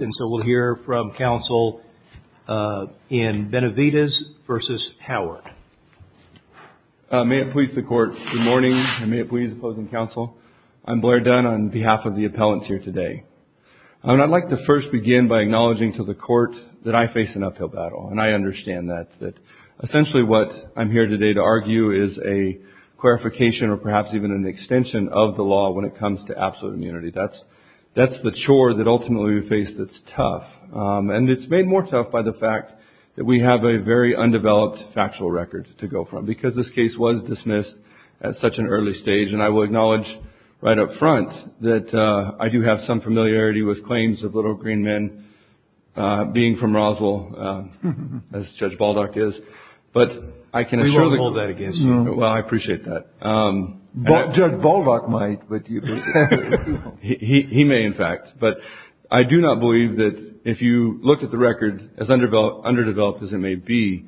May it please the Court, good morning, and may it please the opposing counsel, I'm Blair Dunn on behalf of the appellants here today. I'd like to first begin by acknowledging to the Court that I face an uphill battle, and I understand that. Essentially what I'm here today to argue is a clarification or perhaps even an extension of the law when it comes to absolute immunity. That's the chore that ultimately we face that's tough, and it's made more tough by the fact that we have a very undeveloped factual record to go from. Because this case was dismissed at such an early stage, and I will acknowledge right up front that I do have some familiarity with claims of little green men being from Roswell, as Judge Baldock is, but I can assure the Court. We won't hold that against you. Well, I appreciate that. Judge Baldock might, but you... He may, in fact. But I do not believe that if you look at the record, as underdeveloped as it may be,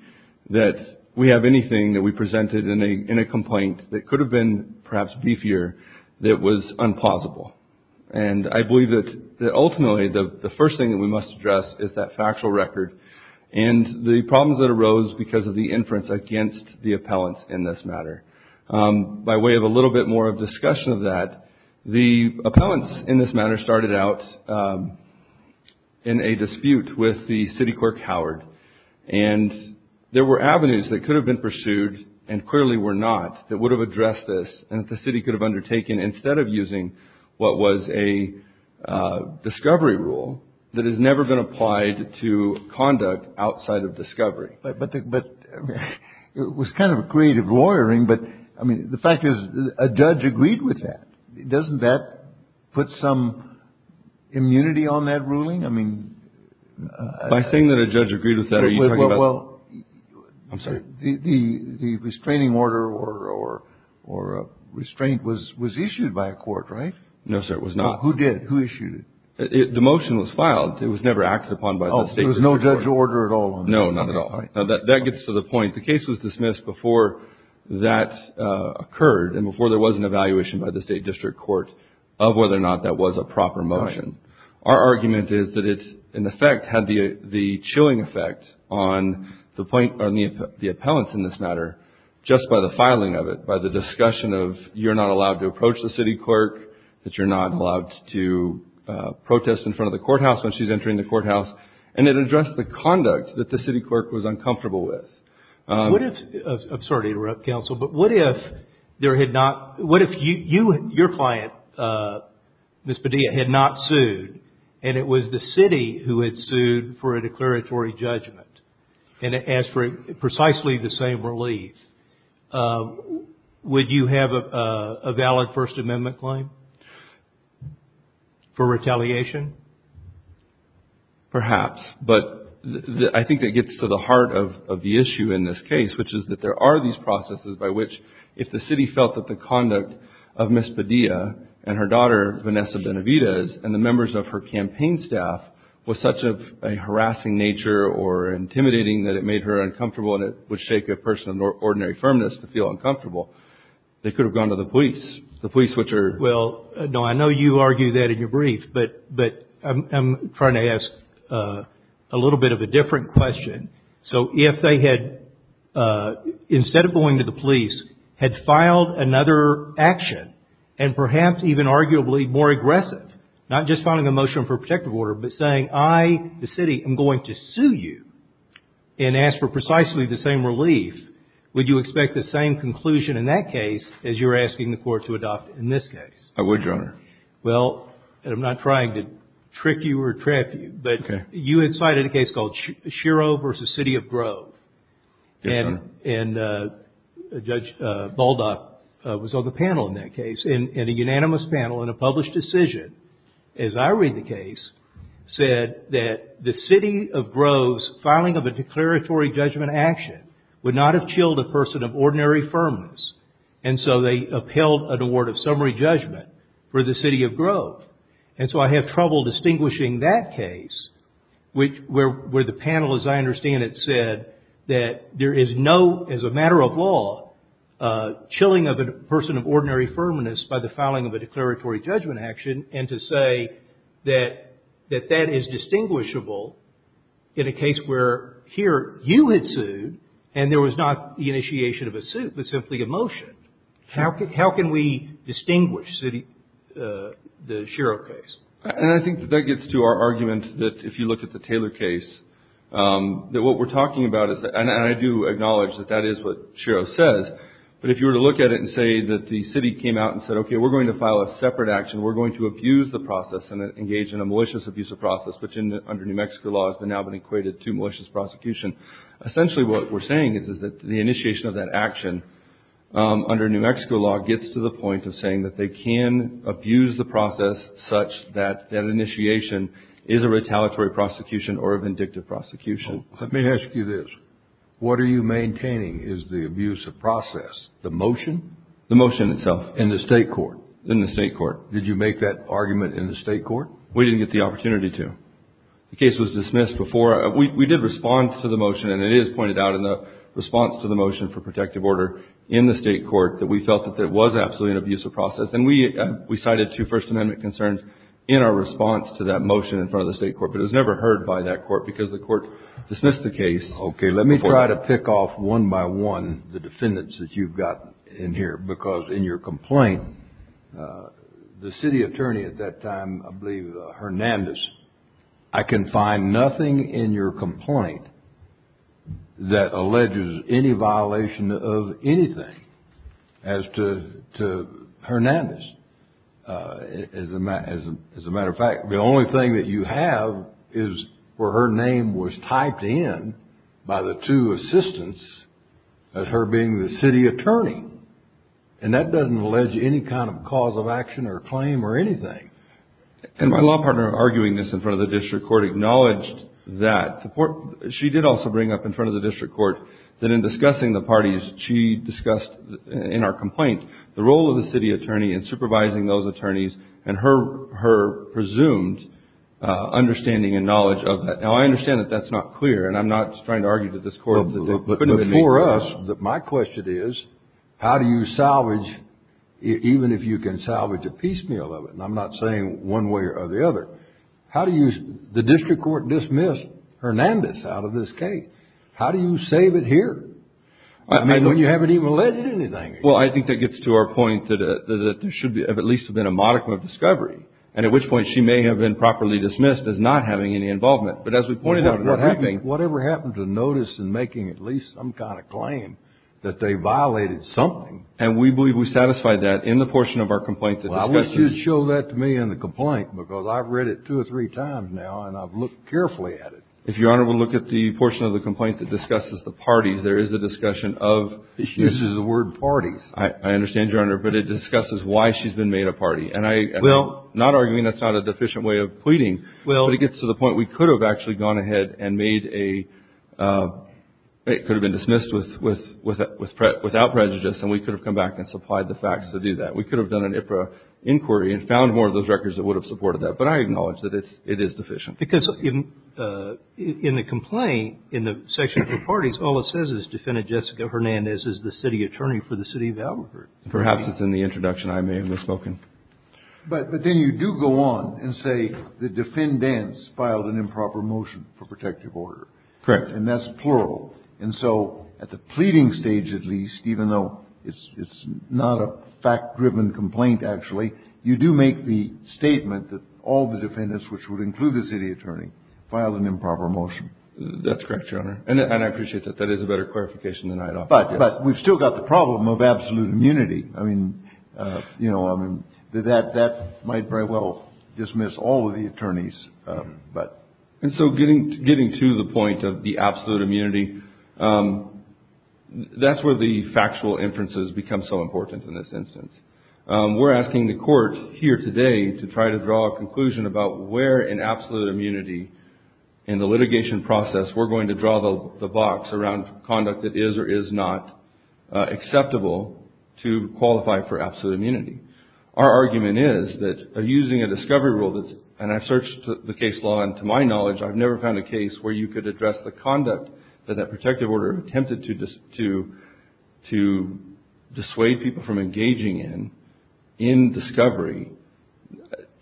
that we have anything that we presented in a complaint that could have been perhaps beefier that was unplausible. And I believe that ultimately the first thing that we must address is that factual record and the problems that arose because of the by way of a little bit more of discussion of that, the appellants in this matter started out in a dispute with the city clerk Howard, and there were avenues that could have been pursued and clearly were not that would have addressed this and that the city could have undertaken instead of using what was a discovery rule that has never been applied to conduct outside of discovery. But it was kind of a creative lawyering. But I mean, the fact is, a judge agreed with that. Doesn't that put some immunity on that ruling? I mean... By saying that a judge agreed with that, are you talking about... Well, I'm sorry. The restraining order or restraint was issued by a court, right? No, sir. It was not. Who did? Who issued it? The motion was filed. It was never acted upon by the state. Oh, there was no judge order at all? No, not at all. That gets to the point. The case was dismissed before that occurred and before there was an evaluation by the state district court of whether or not that was a proper motion. Our argument is that it in effect had the chilling effect on the point on the appellants in this matter just by the filing of it, by the discussion of you're not allowed to approach the city clerk, that you're not allowed to protest in front of a courthouse when she's entering the courthouse, and it addressed the conduct that the city clerk was uncomfortable with. What if... I'm sorry to interrupt, counsel, but what if there had not... What if you and your client, Ms. Padilla, had not sued and it was the city who had sued for a declaratory judgment and it asked for precisely the same relief? Would you have a valid First Amendment claim for retaliation? Perhaps, but I think that gets to the heart of the issue in this case, which is that there are these processes by which if the city felt that the conduct of Ms. Padilla and her daughter, Vanessa Benavidez, and the members of her campaign staff was such of a harassing nature or intimidating that it made her uncomfortable and it would shake a person of ordinary firmness to feel uncomfortable, they could have gone to the police. The police, which are... Well, no, I know you argue that in your brief, but I'm trying to ask a little bit of a different question. So if they had, instead of going to the police, had filed another action, and perhaps even arguably more aggressive, not just filing a motion for a protective order, but saying, I, the city, am going to sue you and ask for precisely the same relief, would you expect the same conclusion in that case as you're asking the court to adopt in this case? I would, Your Honor. Well, and I'm not trying to trick you or trap you, but you had cited a case called Schiro v. City of Grove, and Judge Baldock was on the panel in that case, and a unanimous panel and a published decision, as I read the case, said that the City of Grove's filing of a declaratory judgment action would not have chilled a person of ordinary firmness, and so they upheld an award of summary judgment for the City of Grove. And so I have trouble distinguishing that case, where the panel, as I understand it, said that there is no, as a matter of law, chilling of a person of ordinary firmness by the filing of a declaratory judgment action, and to say that that is distinguishable in a case where, here, you had sued, and there was not the initiation of a suit, but simply a motion. How can we distinguish the Schiro case? And I think that that gets to our argument that, if you look at the Taylor case, that what we're talking about is, and I do acknowledge that that is what Schiro says, but if you were to look at it and say that the city came out and said, okay, we're going to file a separate action, we're going to abuse the process and engage in a malicious abuse of process, which under New Mexico law has now been equated to malicious prosecution, essentially what we're saying is that the initiation of that action, under New Mexico law, gets to the point of saying that they can abuse the process such that that initiation is a retaliatory prosecution or a vindictive prosecution. Let me ask you this. What are you maintaining is the abuse of process? The motion? The motion itself. In the state court? In the state court. Did you make that argument in the state court? We didn't get the opportunity to. The case was dismissed before. We did respond to the motion, and it is pointed out in the response to the motion for protective order in the state court that we felt that there was absolutely an abuse of process. And we cited two First Amendment concerns in our response to that motion in front of the state court, but it was never heard by that court because the court dismissed the case. Okay. Let me try to pick off, one by one, the defendants that you've got in here, because in your complaint, the city attorney at that time, I believe, Hernandez, I can find nothing in your complaint that alleges any violation of anything as to Hernandez. As a matter of fact, the only thing that you have is where her name was typed in by the two assistants as her being the city attorney. And that doesn't allege any kind of cause of action or claim or anything. And my law partner, arguing this in front of the district court, acknowledged that. She did also bring up in front of the district court that in discussing the parties, she discussed in our complaint the role of the city attorney in supervising those attorneys and her presumed understanding and knowledge of that. Now, I understand that that's not clear, and I'm not trying to argue to this court that it couldn't have been me. But for us, my question is, how do you salvage, even if you can salvage a piecemeal of it, and I'm not saying one way or the other, how do you, the district court dismissed Hernandez out of this case? How do you save it here? I mean, when you haven't even alleged anything. Well, I think that gets to our point that there should have at least been a modicum of discovery, and at which point she may have been properly dismissed as not having any I think whatever happened to notice in making at least some kind of claim that they violated something. And we believe we satisfied that in the portion of our complaint that discusses Well, I wish you'd show that to me in the complaint, because I've read it two or three times now, and I've looked carefully at it. If Your Honor would look at the portion of the complaint that discusses the parties, there is a discussion of She uses the word parties. I understand, Your Honor, but it discusses why she's been made a party. And I'm not arguing that's not a deficient way of pleading. Well But it gets to the point we could have actually gone ahead and made a it could have been dismissed with without prejudice, and we could have come back and supplied the facts to do that. We could have done an inquiry and found more of those records that would have supported that. But I acknowledge that it is deficient. Because in the complaint, in the section of the parties, all it says is defendant Jessica Hernandez is the city attorney for the city of Albuquerque. Perhaps it's in the introduction. I may have misspoken. But then you do go on and say the defendants filed an improper motion for protective order. Correct. And that's plural. And so at the pleading stage, at least, even though it's not a fact-driven complaint, actually, you do make the statement that all the defendants, which would include the city attorney, filed an improper motion. That's correct, Your Honor. And I appreciate that. That is a better clarification than I'd offer. But we've still got the problem of absolute immunity. I mean, you know, I mean, that might very well dismiss all of the attorneys. But and so getting getting to the point of the absolute immunity, that's where the factual inferences become so important in this instance. We're asking the court here today to try to draw a conclusion about where in absolute immunity in the litigation process we're going to draw the box around conduct that is or is not acceptable to qualify for absolute immunity. Our argument is that by using a discovery rule that's and I've searched the case law and to my knowledge, I've never found a case where you could address the conduct that that protective order attempted to to to dissuade people from engaging in in discovery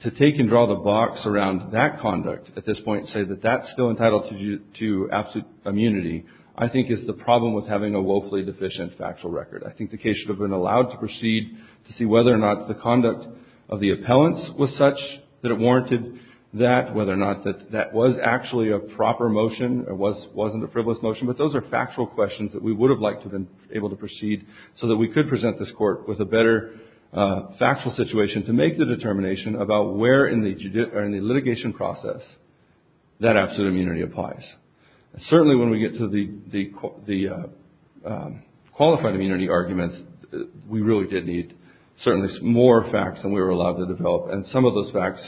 to take and draw the box around that conduct at this point, say that that's still entitled to absolute immunity, I think, is the problem with having a woefully deficient factual record. I think the case should have been allowed to proceed to see whether or not the conduct of the appellants was such that it warranted that, whether or not that that was actually a proper motion or was wasn't a frivolous motion. But those are factual questions that we would have liked to have been able to proceed so that we could present this court with a better factual situation to make the determination about where in the or in the litigation process that absolute immunity applies. Certainly when we get to the the the qualified immunity arguments, we really did need certainly more facts than we were allowed to develop. And some of those facts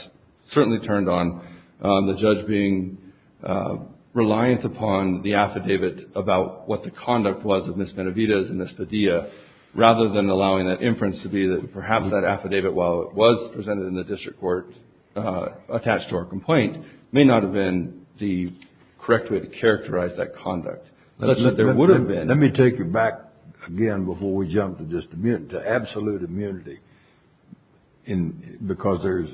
certainly turned on the judge being reliant upon the affidavit about what the conduct was of Ms. Benavidez and Ms. Padilla rather than allowing that inference to be that perhaps that affidavit, while it was presented in the district court attached to our complaint, may not have been the correct way to characterize that conduct. Let's let there would have been. Let me take you back again before we jump to just the absolute immunity. And because there's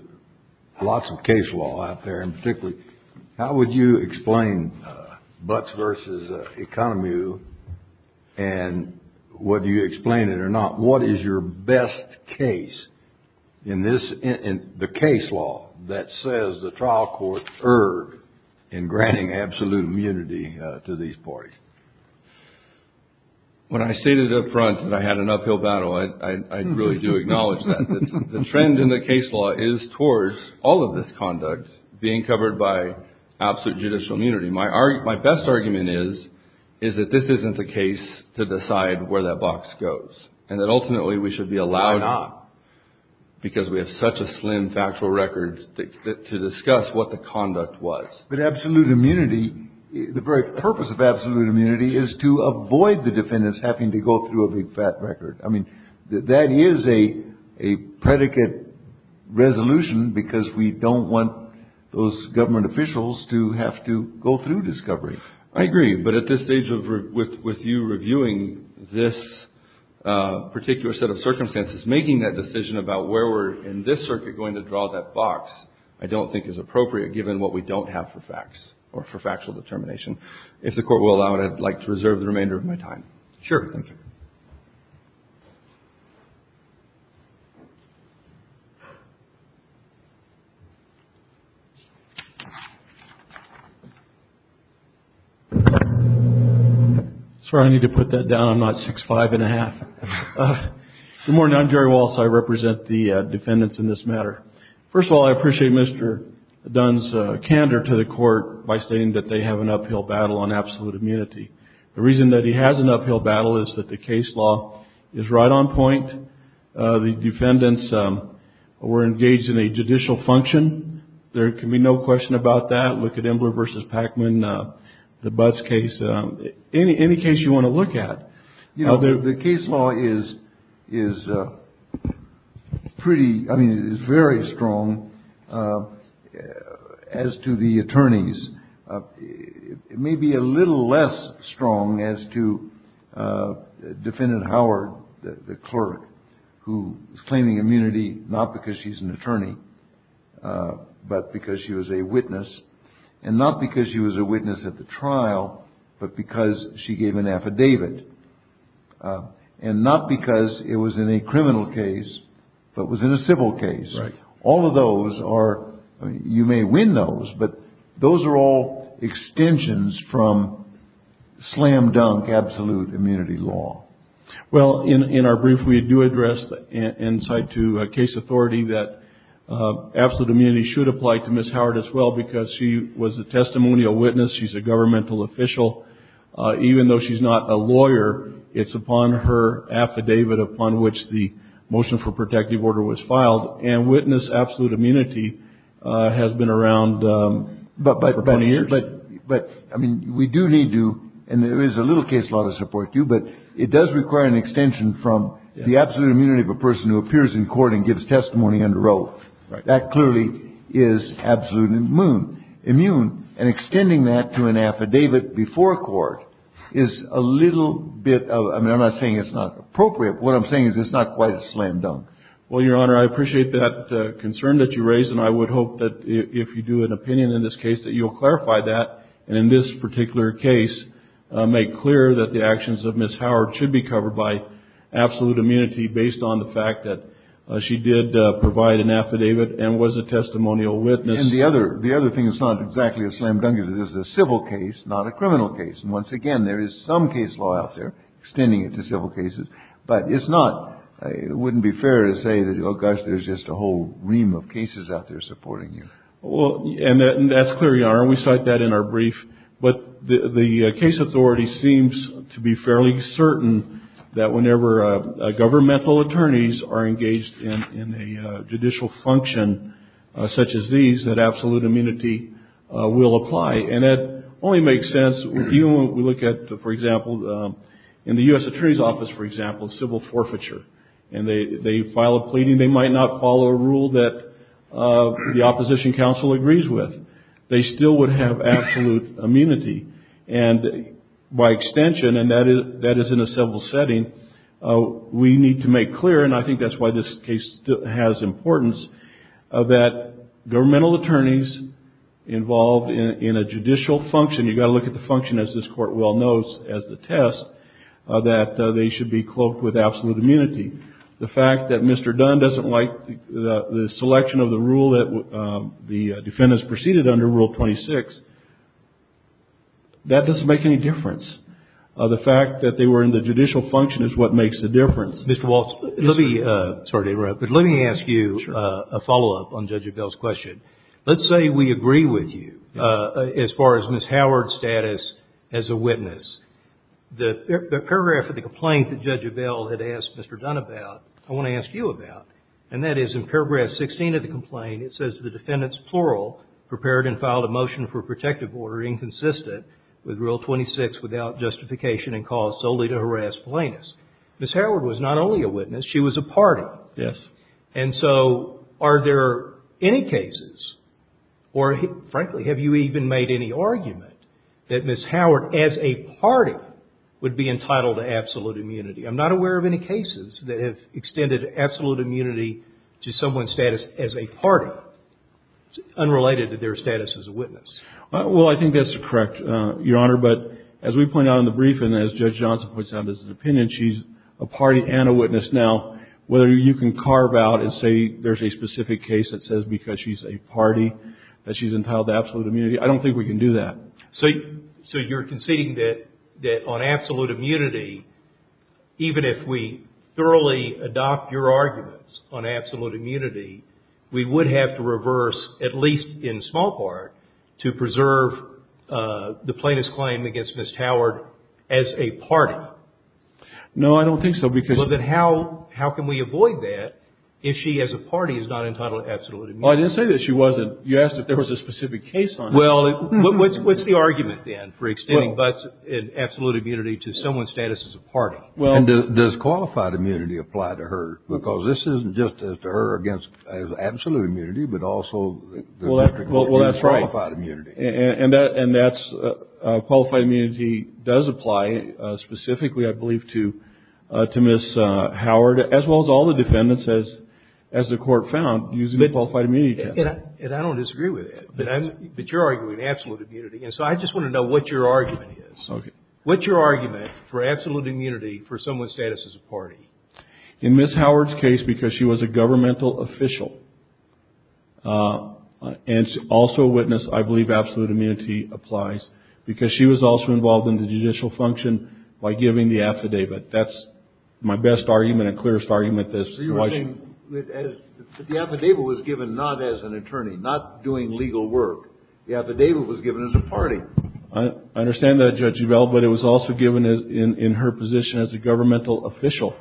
lots of case law out there and particularly, how would you explain Butts versus Economy and whether you explain it or not, what is your best case in this in the case law that says the trial court erred in granting absolute immunity to these parties? When I stated up front that I had an uphill battle, I really do acknowledge that the trend in the case law is towards all of this conduct being covered by absolute judicial immunity. My best argument is, is that this isn't the case to decide where that But absolute immunity, the very purpose of absolute immunity is to avoid the defendants having to go through a big fat record. I mean, that is a predicate resolution because we don't want those government officials to have to go through discovery. I agree. But at this stage of with you reviewing this particular set of circumstances, making that decision about where we're in this circuit, going to draw that box, I don't think is appropriate given what we don't have for facts or for factual determination. If the court will allow it, I'd like to reserve the remainder of my time. Sure. Sorry, I need to put that down. I'm not six five and a half. Good morning. I'm Jerry Walsh. I represent the defendants in this matter. First of all, I appreciate Mr. Dunn's candor to the court by stating that they have an uphill battle on absolute immunity. The reason that he has an uphill battle is that the case law is right on point. The defendants were engaged in a judicial function. There can be no question about that. Look at Embler versus Pacman, the Butts case, any case you want to look at. You know, the case law is is pretty, I mean, it's very strong as to the attorneys. It may be a little less strong as to Defendant Howard, the clerk who is claiming immunity, not because she's an attorney, but because she was a witness and not because she was a witness at the trial, but because she gave an affidavit. And not because it was in a criminal case, but was in a civil case. Right. All of those are you may win those, but those are all extensions from slam dunk absolute immunity law. Well, in our brief, we do address the insight to a case authority that absolute immunity should apply to Ms. Howard as well, because she was a testimonial witness. She's a governmental official, even though she's not a lawyer, it's upon her affidavit upon which the motion for protective order was filed and witness absolute immunity has been around for 20 years. But I mean, we do need to and there is a little case law to support you, but it does require an extension from the absolute immunity of a person who appears in court and gives testimony under oath. That clearly is absolute immune. And extending that to an affidavit before court is a little bit of, I mean, I'm not saying it's not appropriate. What I'm saying is it's not quite a slam dunk. Well, Your Honor, I appreciate that concern that you raised. And I would hope that if you do an opinion in this case, that you'll clarify that. And in this particular case, make clear that the actions of Ms. Howard should be covered by absolute immunity based on the fact that she did provide an affidavit and was a testimonial witness. And the other thing that's not exactly a slam dunk is that this is a civil case, not a criminal case. And once again, there is some case law out there extending it to civil cases, but it's not, it wouldn't be fair to say that, oh, gosh, there's just a whole ream of cases out there supporting you. Well, and that's clear, Your Honor, and we cite that in our brief. But the case authority seems to be fairly certain that whenever governmental attorneys are engaged in a judicial function such as these, that absolute immunity will apply. And that only makes sense when we look at, for example, in the U.S. Attorney's Office, for example, civil forfeiture, and they file a pleading. They might not follow a rule that the opposition counsel agrees with. They still would have absolute immunity. And by extension, and that is in a civil setting, we need to make clear, and I think that's why this case has importance, that governmental attorneys involved in a judicial function, you've got to look at the function, as this Court well knows, as the test, that they should be cloaked with absolute immunity. The fact that Mr. Dunn doesn't like the selection of the rule that the defendants proceeded under, Rule 26, that doesn't make any difference. The fact that they were in the judicial function is what makes the difference. Mr. Waltz, let me ask you a follow-up on Judge Abell's question. Let's say we agree with you as far as Ms. Howard's status as a witness. The paragraph of the complaint that Judge Abell had asked Mr. Dunn about, I want to ask you about, and that is in paragraph 16 of the complaint, it says, the defendants, plural, prepared and filed a motion for protective order inconsistent with Rule 26 without justification and cause solely to harass plaintiffs. Ms. Howard was not only a witness, she was a party. Yes. And so are there any cases, or frankly, have you even made any argument that Ms. Howard, as a party, would be entitled to absolute immunity? I'm not aware of any cases that have extended absolute immunity to someone's a party, unrelated to their status as a witness. Well, I think that's correct, Your Honor. But as we point out in the brief, and as Judge Johnson puts out in his opinion, she's a party and a witness. Now, whether you can carve out and say there's a specific case that says because she's a party, that she's entitled to absolute immunity, I don't think we can do that. So you're conceding that on absolute immunity, even if we thoroughly adopt your opinion on absolute immunity, we would have to reverse, at least in small part, to preserve the plaintiff's claim against Ms. Howard as a party? No, I don't think so. Because... Well, then how can we avoid that if she, as a party, is not entitled to absolute immunity? Well, I didn't say that she wasn't. You asked if there was a specific case on her. Well, what's the argument then for extending absolute immunity to someone's status as a party? And does qualified immunity apply to her? Because this isn't just as to her against absolute immunity, but also... Well, that's right. Qualified immunity. And that's, qualified immunity does apply specifically, I believe, to Ms. Howard, as well as all the defendants, as the Court found, using the qualified immunity test. And I don't disagree with that, but you're arguing absolute immunity. And so I just want to know what your argument is. Okay. What's your argument for absolute immunity for someone's status as a party? In Ms. Howard's case, because she was a governmental official, and also a witness, I believe absolute immunity applies, because she was also involved in the judicial function by giving the affidavit. That's my best argument and clearest argument that's why she... You're saying that the affidavit was given not as an attorney, not doing legal work. The affidavit was given as a party. I understand that, Judge Udall, but it was also given in her position as a governmental official,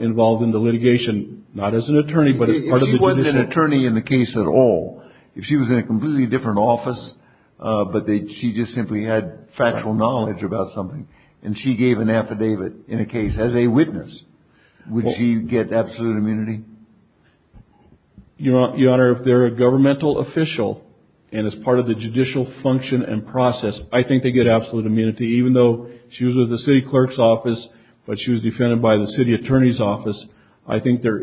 involved in the litigation, not as an attorney, but as part of the judicial... If she wasn't an attorney in the case at all, if she was in a completely different office, but she just simply had factual knowledge about something, and she gave an affidavit in a case as a witness, would she get absolute immunity? Your Honor, if they're a governmental official, and as part of the judicial function and process, I think they get absolute immunity, even though she was with the city clerk's office, but she was defended by the city attorney's office. I think they're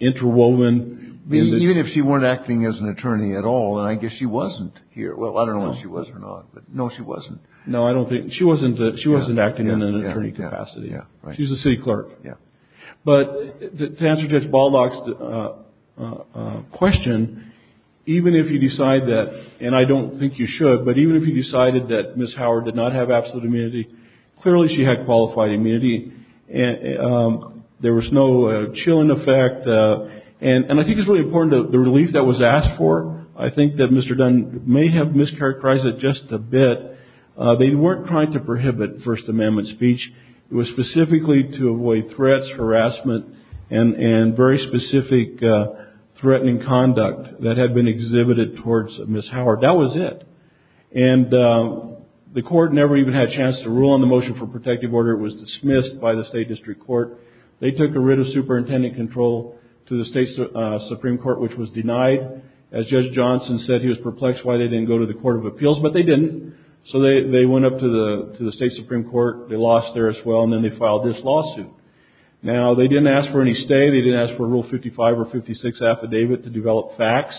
interwoven in the... Even if she weren't acting as an attorney at all, and I guess she wasn't here. Well, I don't know if she was or not, but no, she wasn't. No, I don't think... She wasn't acting in an attorney capacity. Yeah, right. She's a city clerk. Yeah. To answer Judge Baldock's question, even if you decide that, and I don't think you should, but even if you decided that Ms. Howard did not have absolute immunity, clearly she had qualified immunity. There was no chilling effect, and I think it's really important, the relief that was asked for, I think that Mr. Dunn may have mischaracterized it just a bit. They weren't trying to prohibit First Amendment speech. It was specifically to avoid threats, harassment, and very specific threatening conduct that had been exhibited towards Ms. Howard. That was it. And the court never even had a chance to rule on the motion for protective order. It was dismissed by the state district court. They took a writ of superintendent control to the state Supreme court, which was denied. As Judge Johnson said, he was perplexed why they didn't go to the court of appeals, but they didn't. So they went up to the state Supreme court. They lost there as well, and then they filed this lawsuit. Now they didn't ask for any stay. They didn't ask for rule 55 or 56 affidavit to develop facts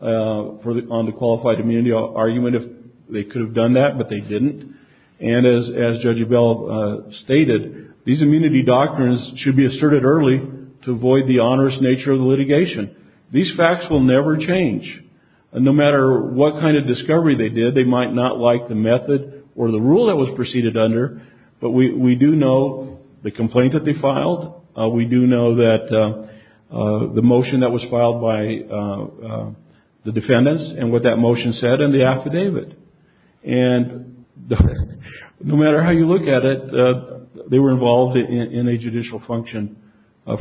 on the qualified immunity argument. If they could have done that, but they didn't. And as Judge Avell stated, these immunity doctrines should be asserted early to avoid the onerous nature of the litigation. These facts will never change. And no matter what kind of discovery they did, they might not like the method or the rule that was proceeded under. But we do know the complaint that they filed. We do know that the motion that was filed by the defendants and what that motion said in the affidavit. And no matter how you look at it, they were involved in a judicial function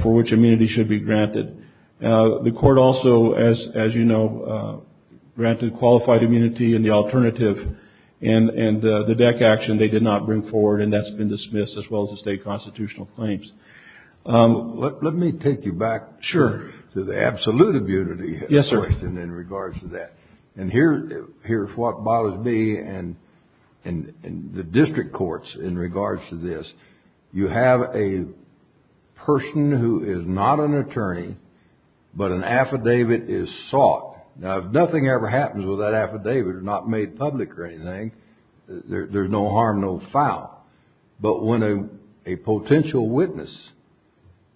for which immunity should be granted. The court also, as you know, granted qualified immunity and the alternative. And the DEC action, they did not bring forward. And that's been dismissed as well as the state constitutional claims. Let me take you back to the absolute immunity question in regards to that. And here's what bothers me in the district courts in regards to this. You have a person who is not an attorney, but an affidavit is sought. Now, if nothing ever happens with that affidavit, if it's not made public or anything, there's no harm, no foul. But when a potential witness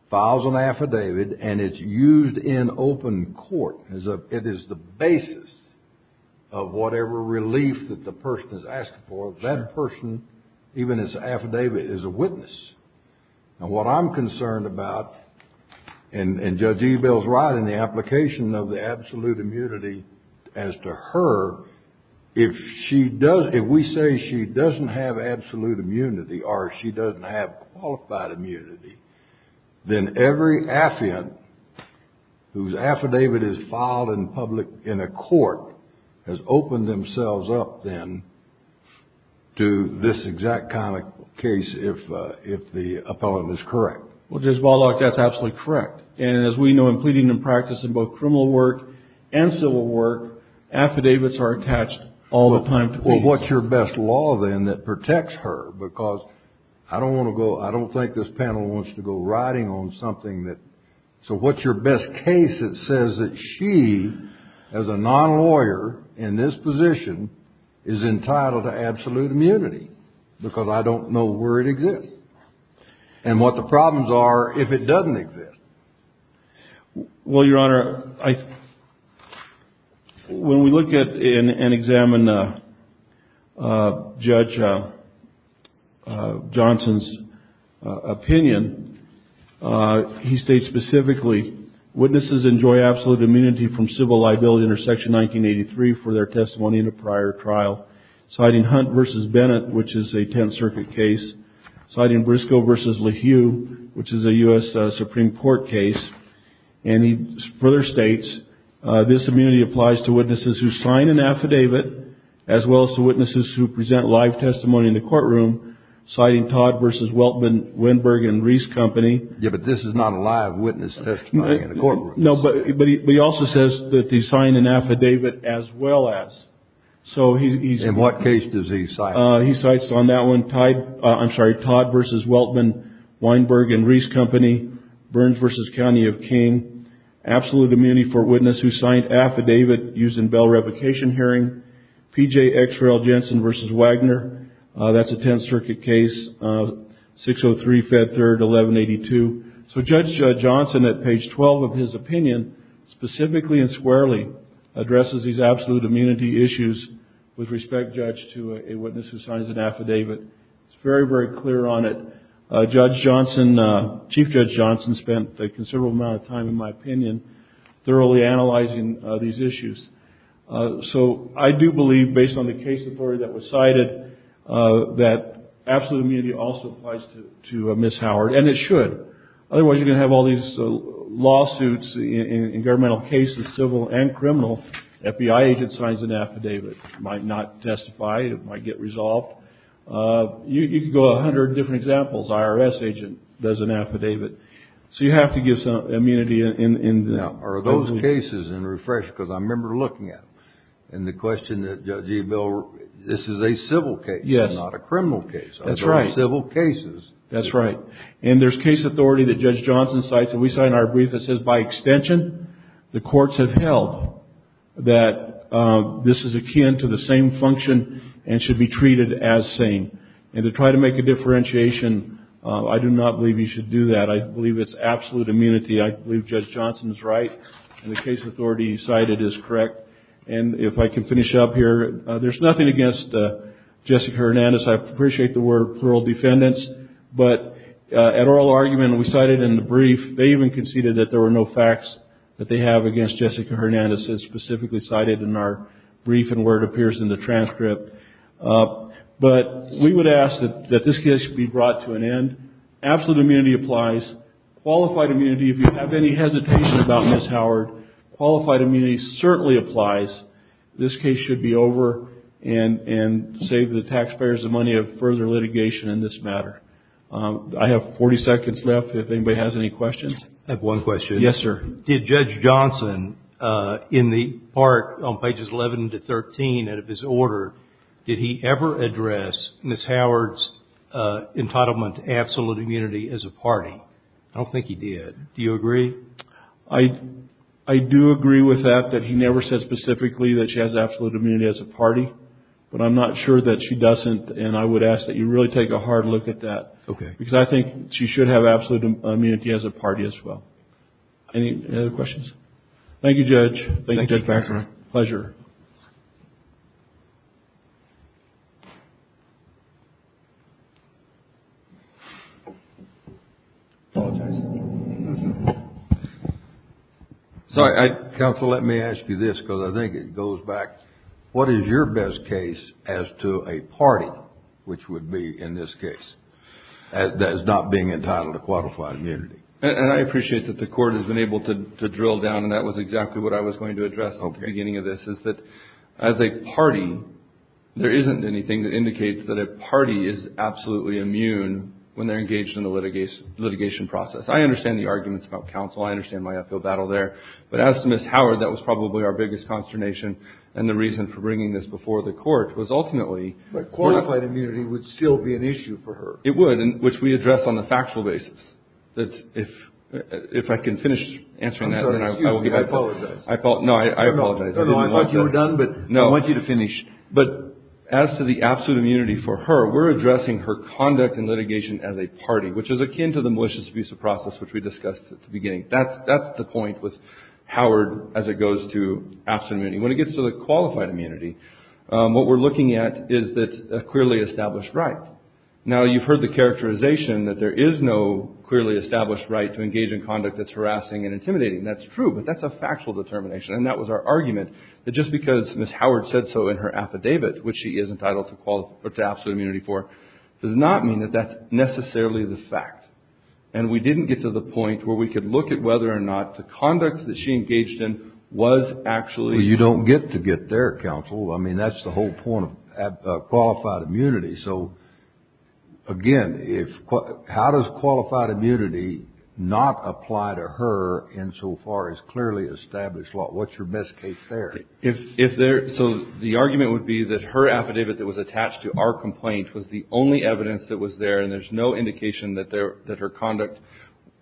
files an affidavit and it's used in open court as a, it is the basis of whatever relief that the person has asked for, that person, even as an affidavit, is a witness. And what I'm concerned about, and Judge Ebel's right in the application of the absolute immunity as to her, if she does, if we say she doesn't have absolute immunity or she doesn't have qualified immunity, then every affidavit whose affidavit is filed in public, in a court has opened themselves up then to this exact kind of case if, if the appellant is correct. Well, Judge Wallock, that's absolutely correct. And as we know, in pleading and practice in both criminal work and civil work, affidavits are attached all the time to people. Well, what's your best law then that protects her? Because I don't want to go, I don't think this panel wants to go riding on something that, so what's your best case that says that she, as a non-lawyer in this position, is entitled to absolute immunity because I don't know where it exists and what the problems are if it doesn't exist. Well, Your Honor, I, when we look at and examine Judge Johnson's opinion, he states specifically, witnesses enjoy absolute immunity from civil liability under Section 1983 for their testimony in a prior trial, citing Hunt versus Bennett, which is a Tenth Circuit case, citing Briscoe versus Lehue, which is a U.S. Supreme Court case, and he further states, this immunity applies to witnesses who sign an affidavit, as well as to witnesses who present live testimony in the courtroom, citing Todd versus Weltman, Weinberg, and Reese Company. Yeah, but this is not a live witness testimony in a courtroom. No, but he also says that he signed an affidavit as well as, so he's. In what case does he cite? He cites on that one, Todd, I'm sorry, Todd versus Weltman, Weinberg, and Reese Company, Burns versus County of King, absolute immunity for a witness who signed affidavit used in bell revocation hearing, P.J. X. Rail Jensen versus Wagner, that's a Tenth Circuit case, 603, Fed Third, 1182. So Judge Johnson, at page 12 of his opinion, specifically and squarely addresses these absolute immunity issues with respect, Judge, to a witness who signs an affidavit. It's very, very clear on it. Judge Johnson, Chief Judge Johnson spent a considerable amount of time, in my opinion, thoroughly analyzing these issues. So I do believe, based on the case authority that was cited, that absolute immunity also applies to Ms. Howard, and it should. Otherwise, you're going to have all these lawsuits in governmental cases, civil and criminal, FBI agent signs an affidavit. It might not testify. It might get resolved. You could go a hundred different examples. IRS agent does an affidavit. So you have to give some immunity. Now, are those cases, and refresh, because I remember looking at them, and the question that Judge Ebel, this is a civil case, not a criminal case. Those are all civil cases. That's right. And there's case authority that Judge Johnson cites, and we say in our brief, it says, by extension, the courts have held that this is akin to the same function and should be treated as same. And to try to make a differentiation, I do not believe you should do that. I believe it's absolute immunity. I believe Judge Johnson's right, and the case authority cited is correct. And if I can finish up here, there's nothing against Jessica Hernandez. I appreciate the word plural defendants, but at oral argument, we cited in the brief, they even conceded that there were no facts that they have against Jessica Hernandez as specifically cited in our brief, and where it appears in the transcript, but we would ask that this case be brought to an end. Absolute immunity applies. Qualified immunity, if you have any hesitation about Ms. Howard, qualified immunity certainly applies. This case should be over and save the taxpayers the money of further litigation in this matter. I have 40 seconds left. If anybody has any questions. I have one question. Yes, sir. Did Judge Johnson, in the part on pages 11 to 13 out of his order, did he ever address Ms. Howard's entitlement to absolute immunity as a party? I don't think he did. Do you agree? I do agree with that, that he never said specifically that she has absolute immunity as a party, but I'm not sure that she doesn't. And I would ask that you really take a hard look at that because I think she should have absolute immunity as a party as well. Any other questions? Thank you, Judge. Thank you, Judge Baxter. Pleasure. Counsel, let me ask you this because I think it goes back. What is your best case as to a party, which would be in this case, that is not being entitled to qualified immunity? And I appreciate that the court has been able to drill down, and that was exactly what I was going to address at the beginning of this, is that as a party, there isn't anything that indicates that a party is absolutely immune when they're engaged in the litigation process. I understand the arguments about counsel. I understand my uphill battle there. But as to Ms. Howard, that was probably our biggest consternation. And the reason for bringing this before the court was ultimately... But qualified immunity would still be an issue for her. It would, which we address on a factual basis. That's if, if I can finish answering that, I apologize. I thought, no, I apologize. I thought you were done, but I want you to finish. But as to the absolute immunity for her, we're addressing her conduct and litigation as a party, which is akin to the malicious abuse of process, which we discussed at the beginning. That's, that's the point with Howard as it goes to absolute immunity. When it gets to the qualified immunity, what we're looking at is that a clearly established right. Now you've heard the characterization that there is no clearly established right to engage in conduct that's harassing and intimidating. That's true, but that's a factual determination. And that was our argument that just because Ms. Howard said so in her affidavit, which she is entitled to absolute immunity for, does not mean that that's necessarily the fact. And we didn't get to the point where we could look at whether or not the conduct that she engaged in was actually... You don't get to get their counsel. I mean, that's the whole point of qualified immunity. So again, if, how does qualified immunity not apply to her insofar as clearly established law? What's your best case theory? If, if there, so the argument would be that her affidavit that was attached to our complaint was the only evidence that was there. And there's no indication that there, that her conduct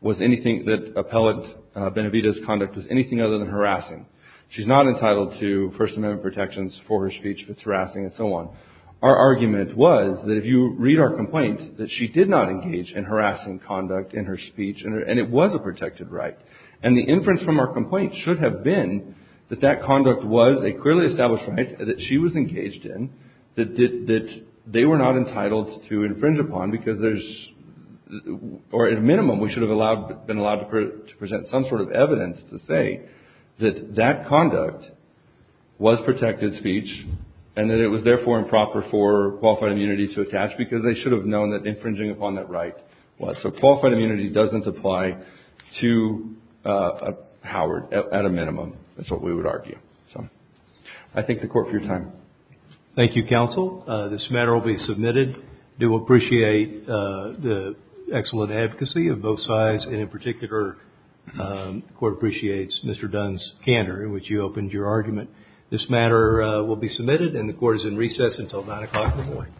was anything that appellate Benavidez's conduct was anything other than harassing. She's not entitled to first amendment protections for her speech, if it's harassing and so on. Our argument was that if you read our complaint, that she did not engage in harassing conduct in her speech and it was a protected right. And the inference from our complaint should have been that that conduct was a clearly established right that she was engaged in, that did, that they were not entitled to infringe upon because there's, or at a minimum, we should have allowed, been allowed to present some sort of evidence to say that that conduct was protected speech and that it was therefore improper for qualified immunity to attach because they should have known that infringing upon that right was. So qualified immunity doesn't apply to Howard at a minimum. That's what we would argue. So I thank the Court for your time. Thank you, counsel. This matter will be submitted. Do appreciate the excellent advocacy of both sides. And in particular, the Court appreciates Mr. Dunn's candor in which you opened your argument. This matter will be submitted and the Court is in recess until 9 o'clock in the morning.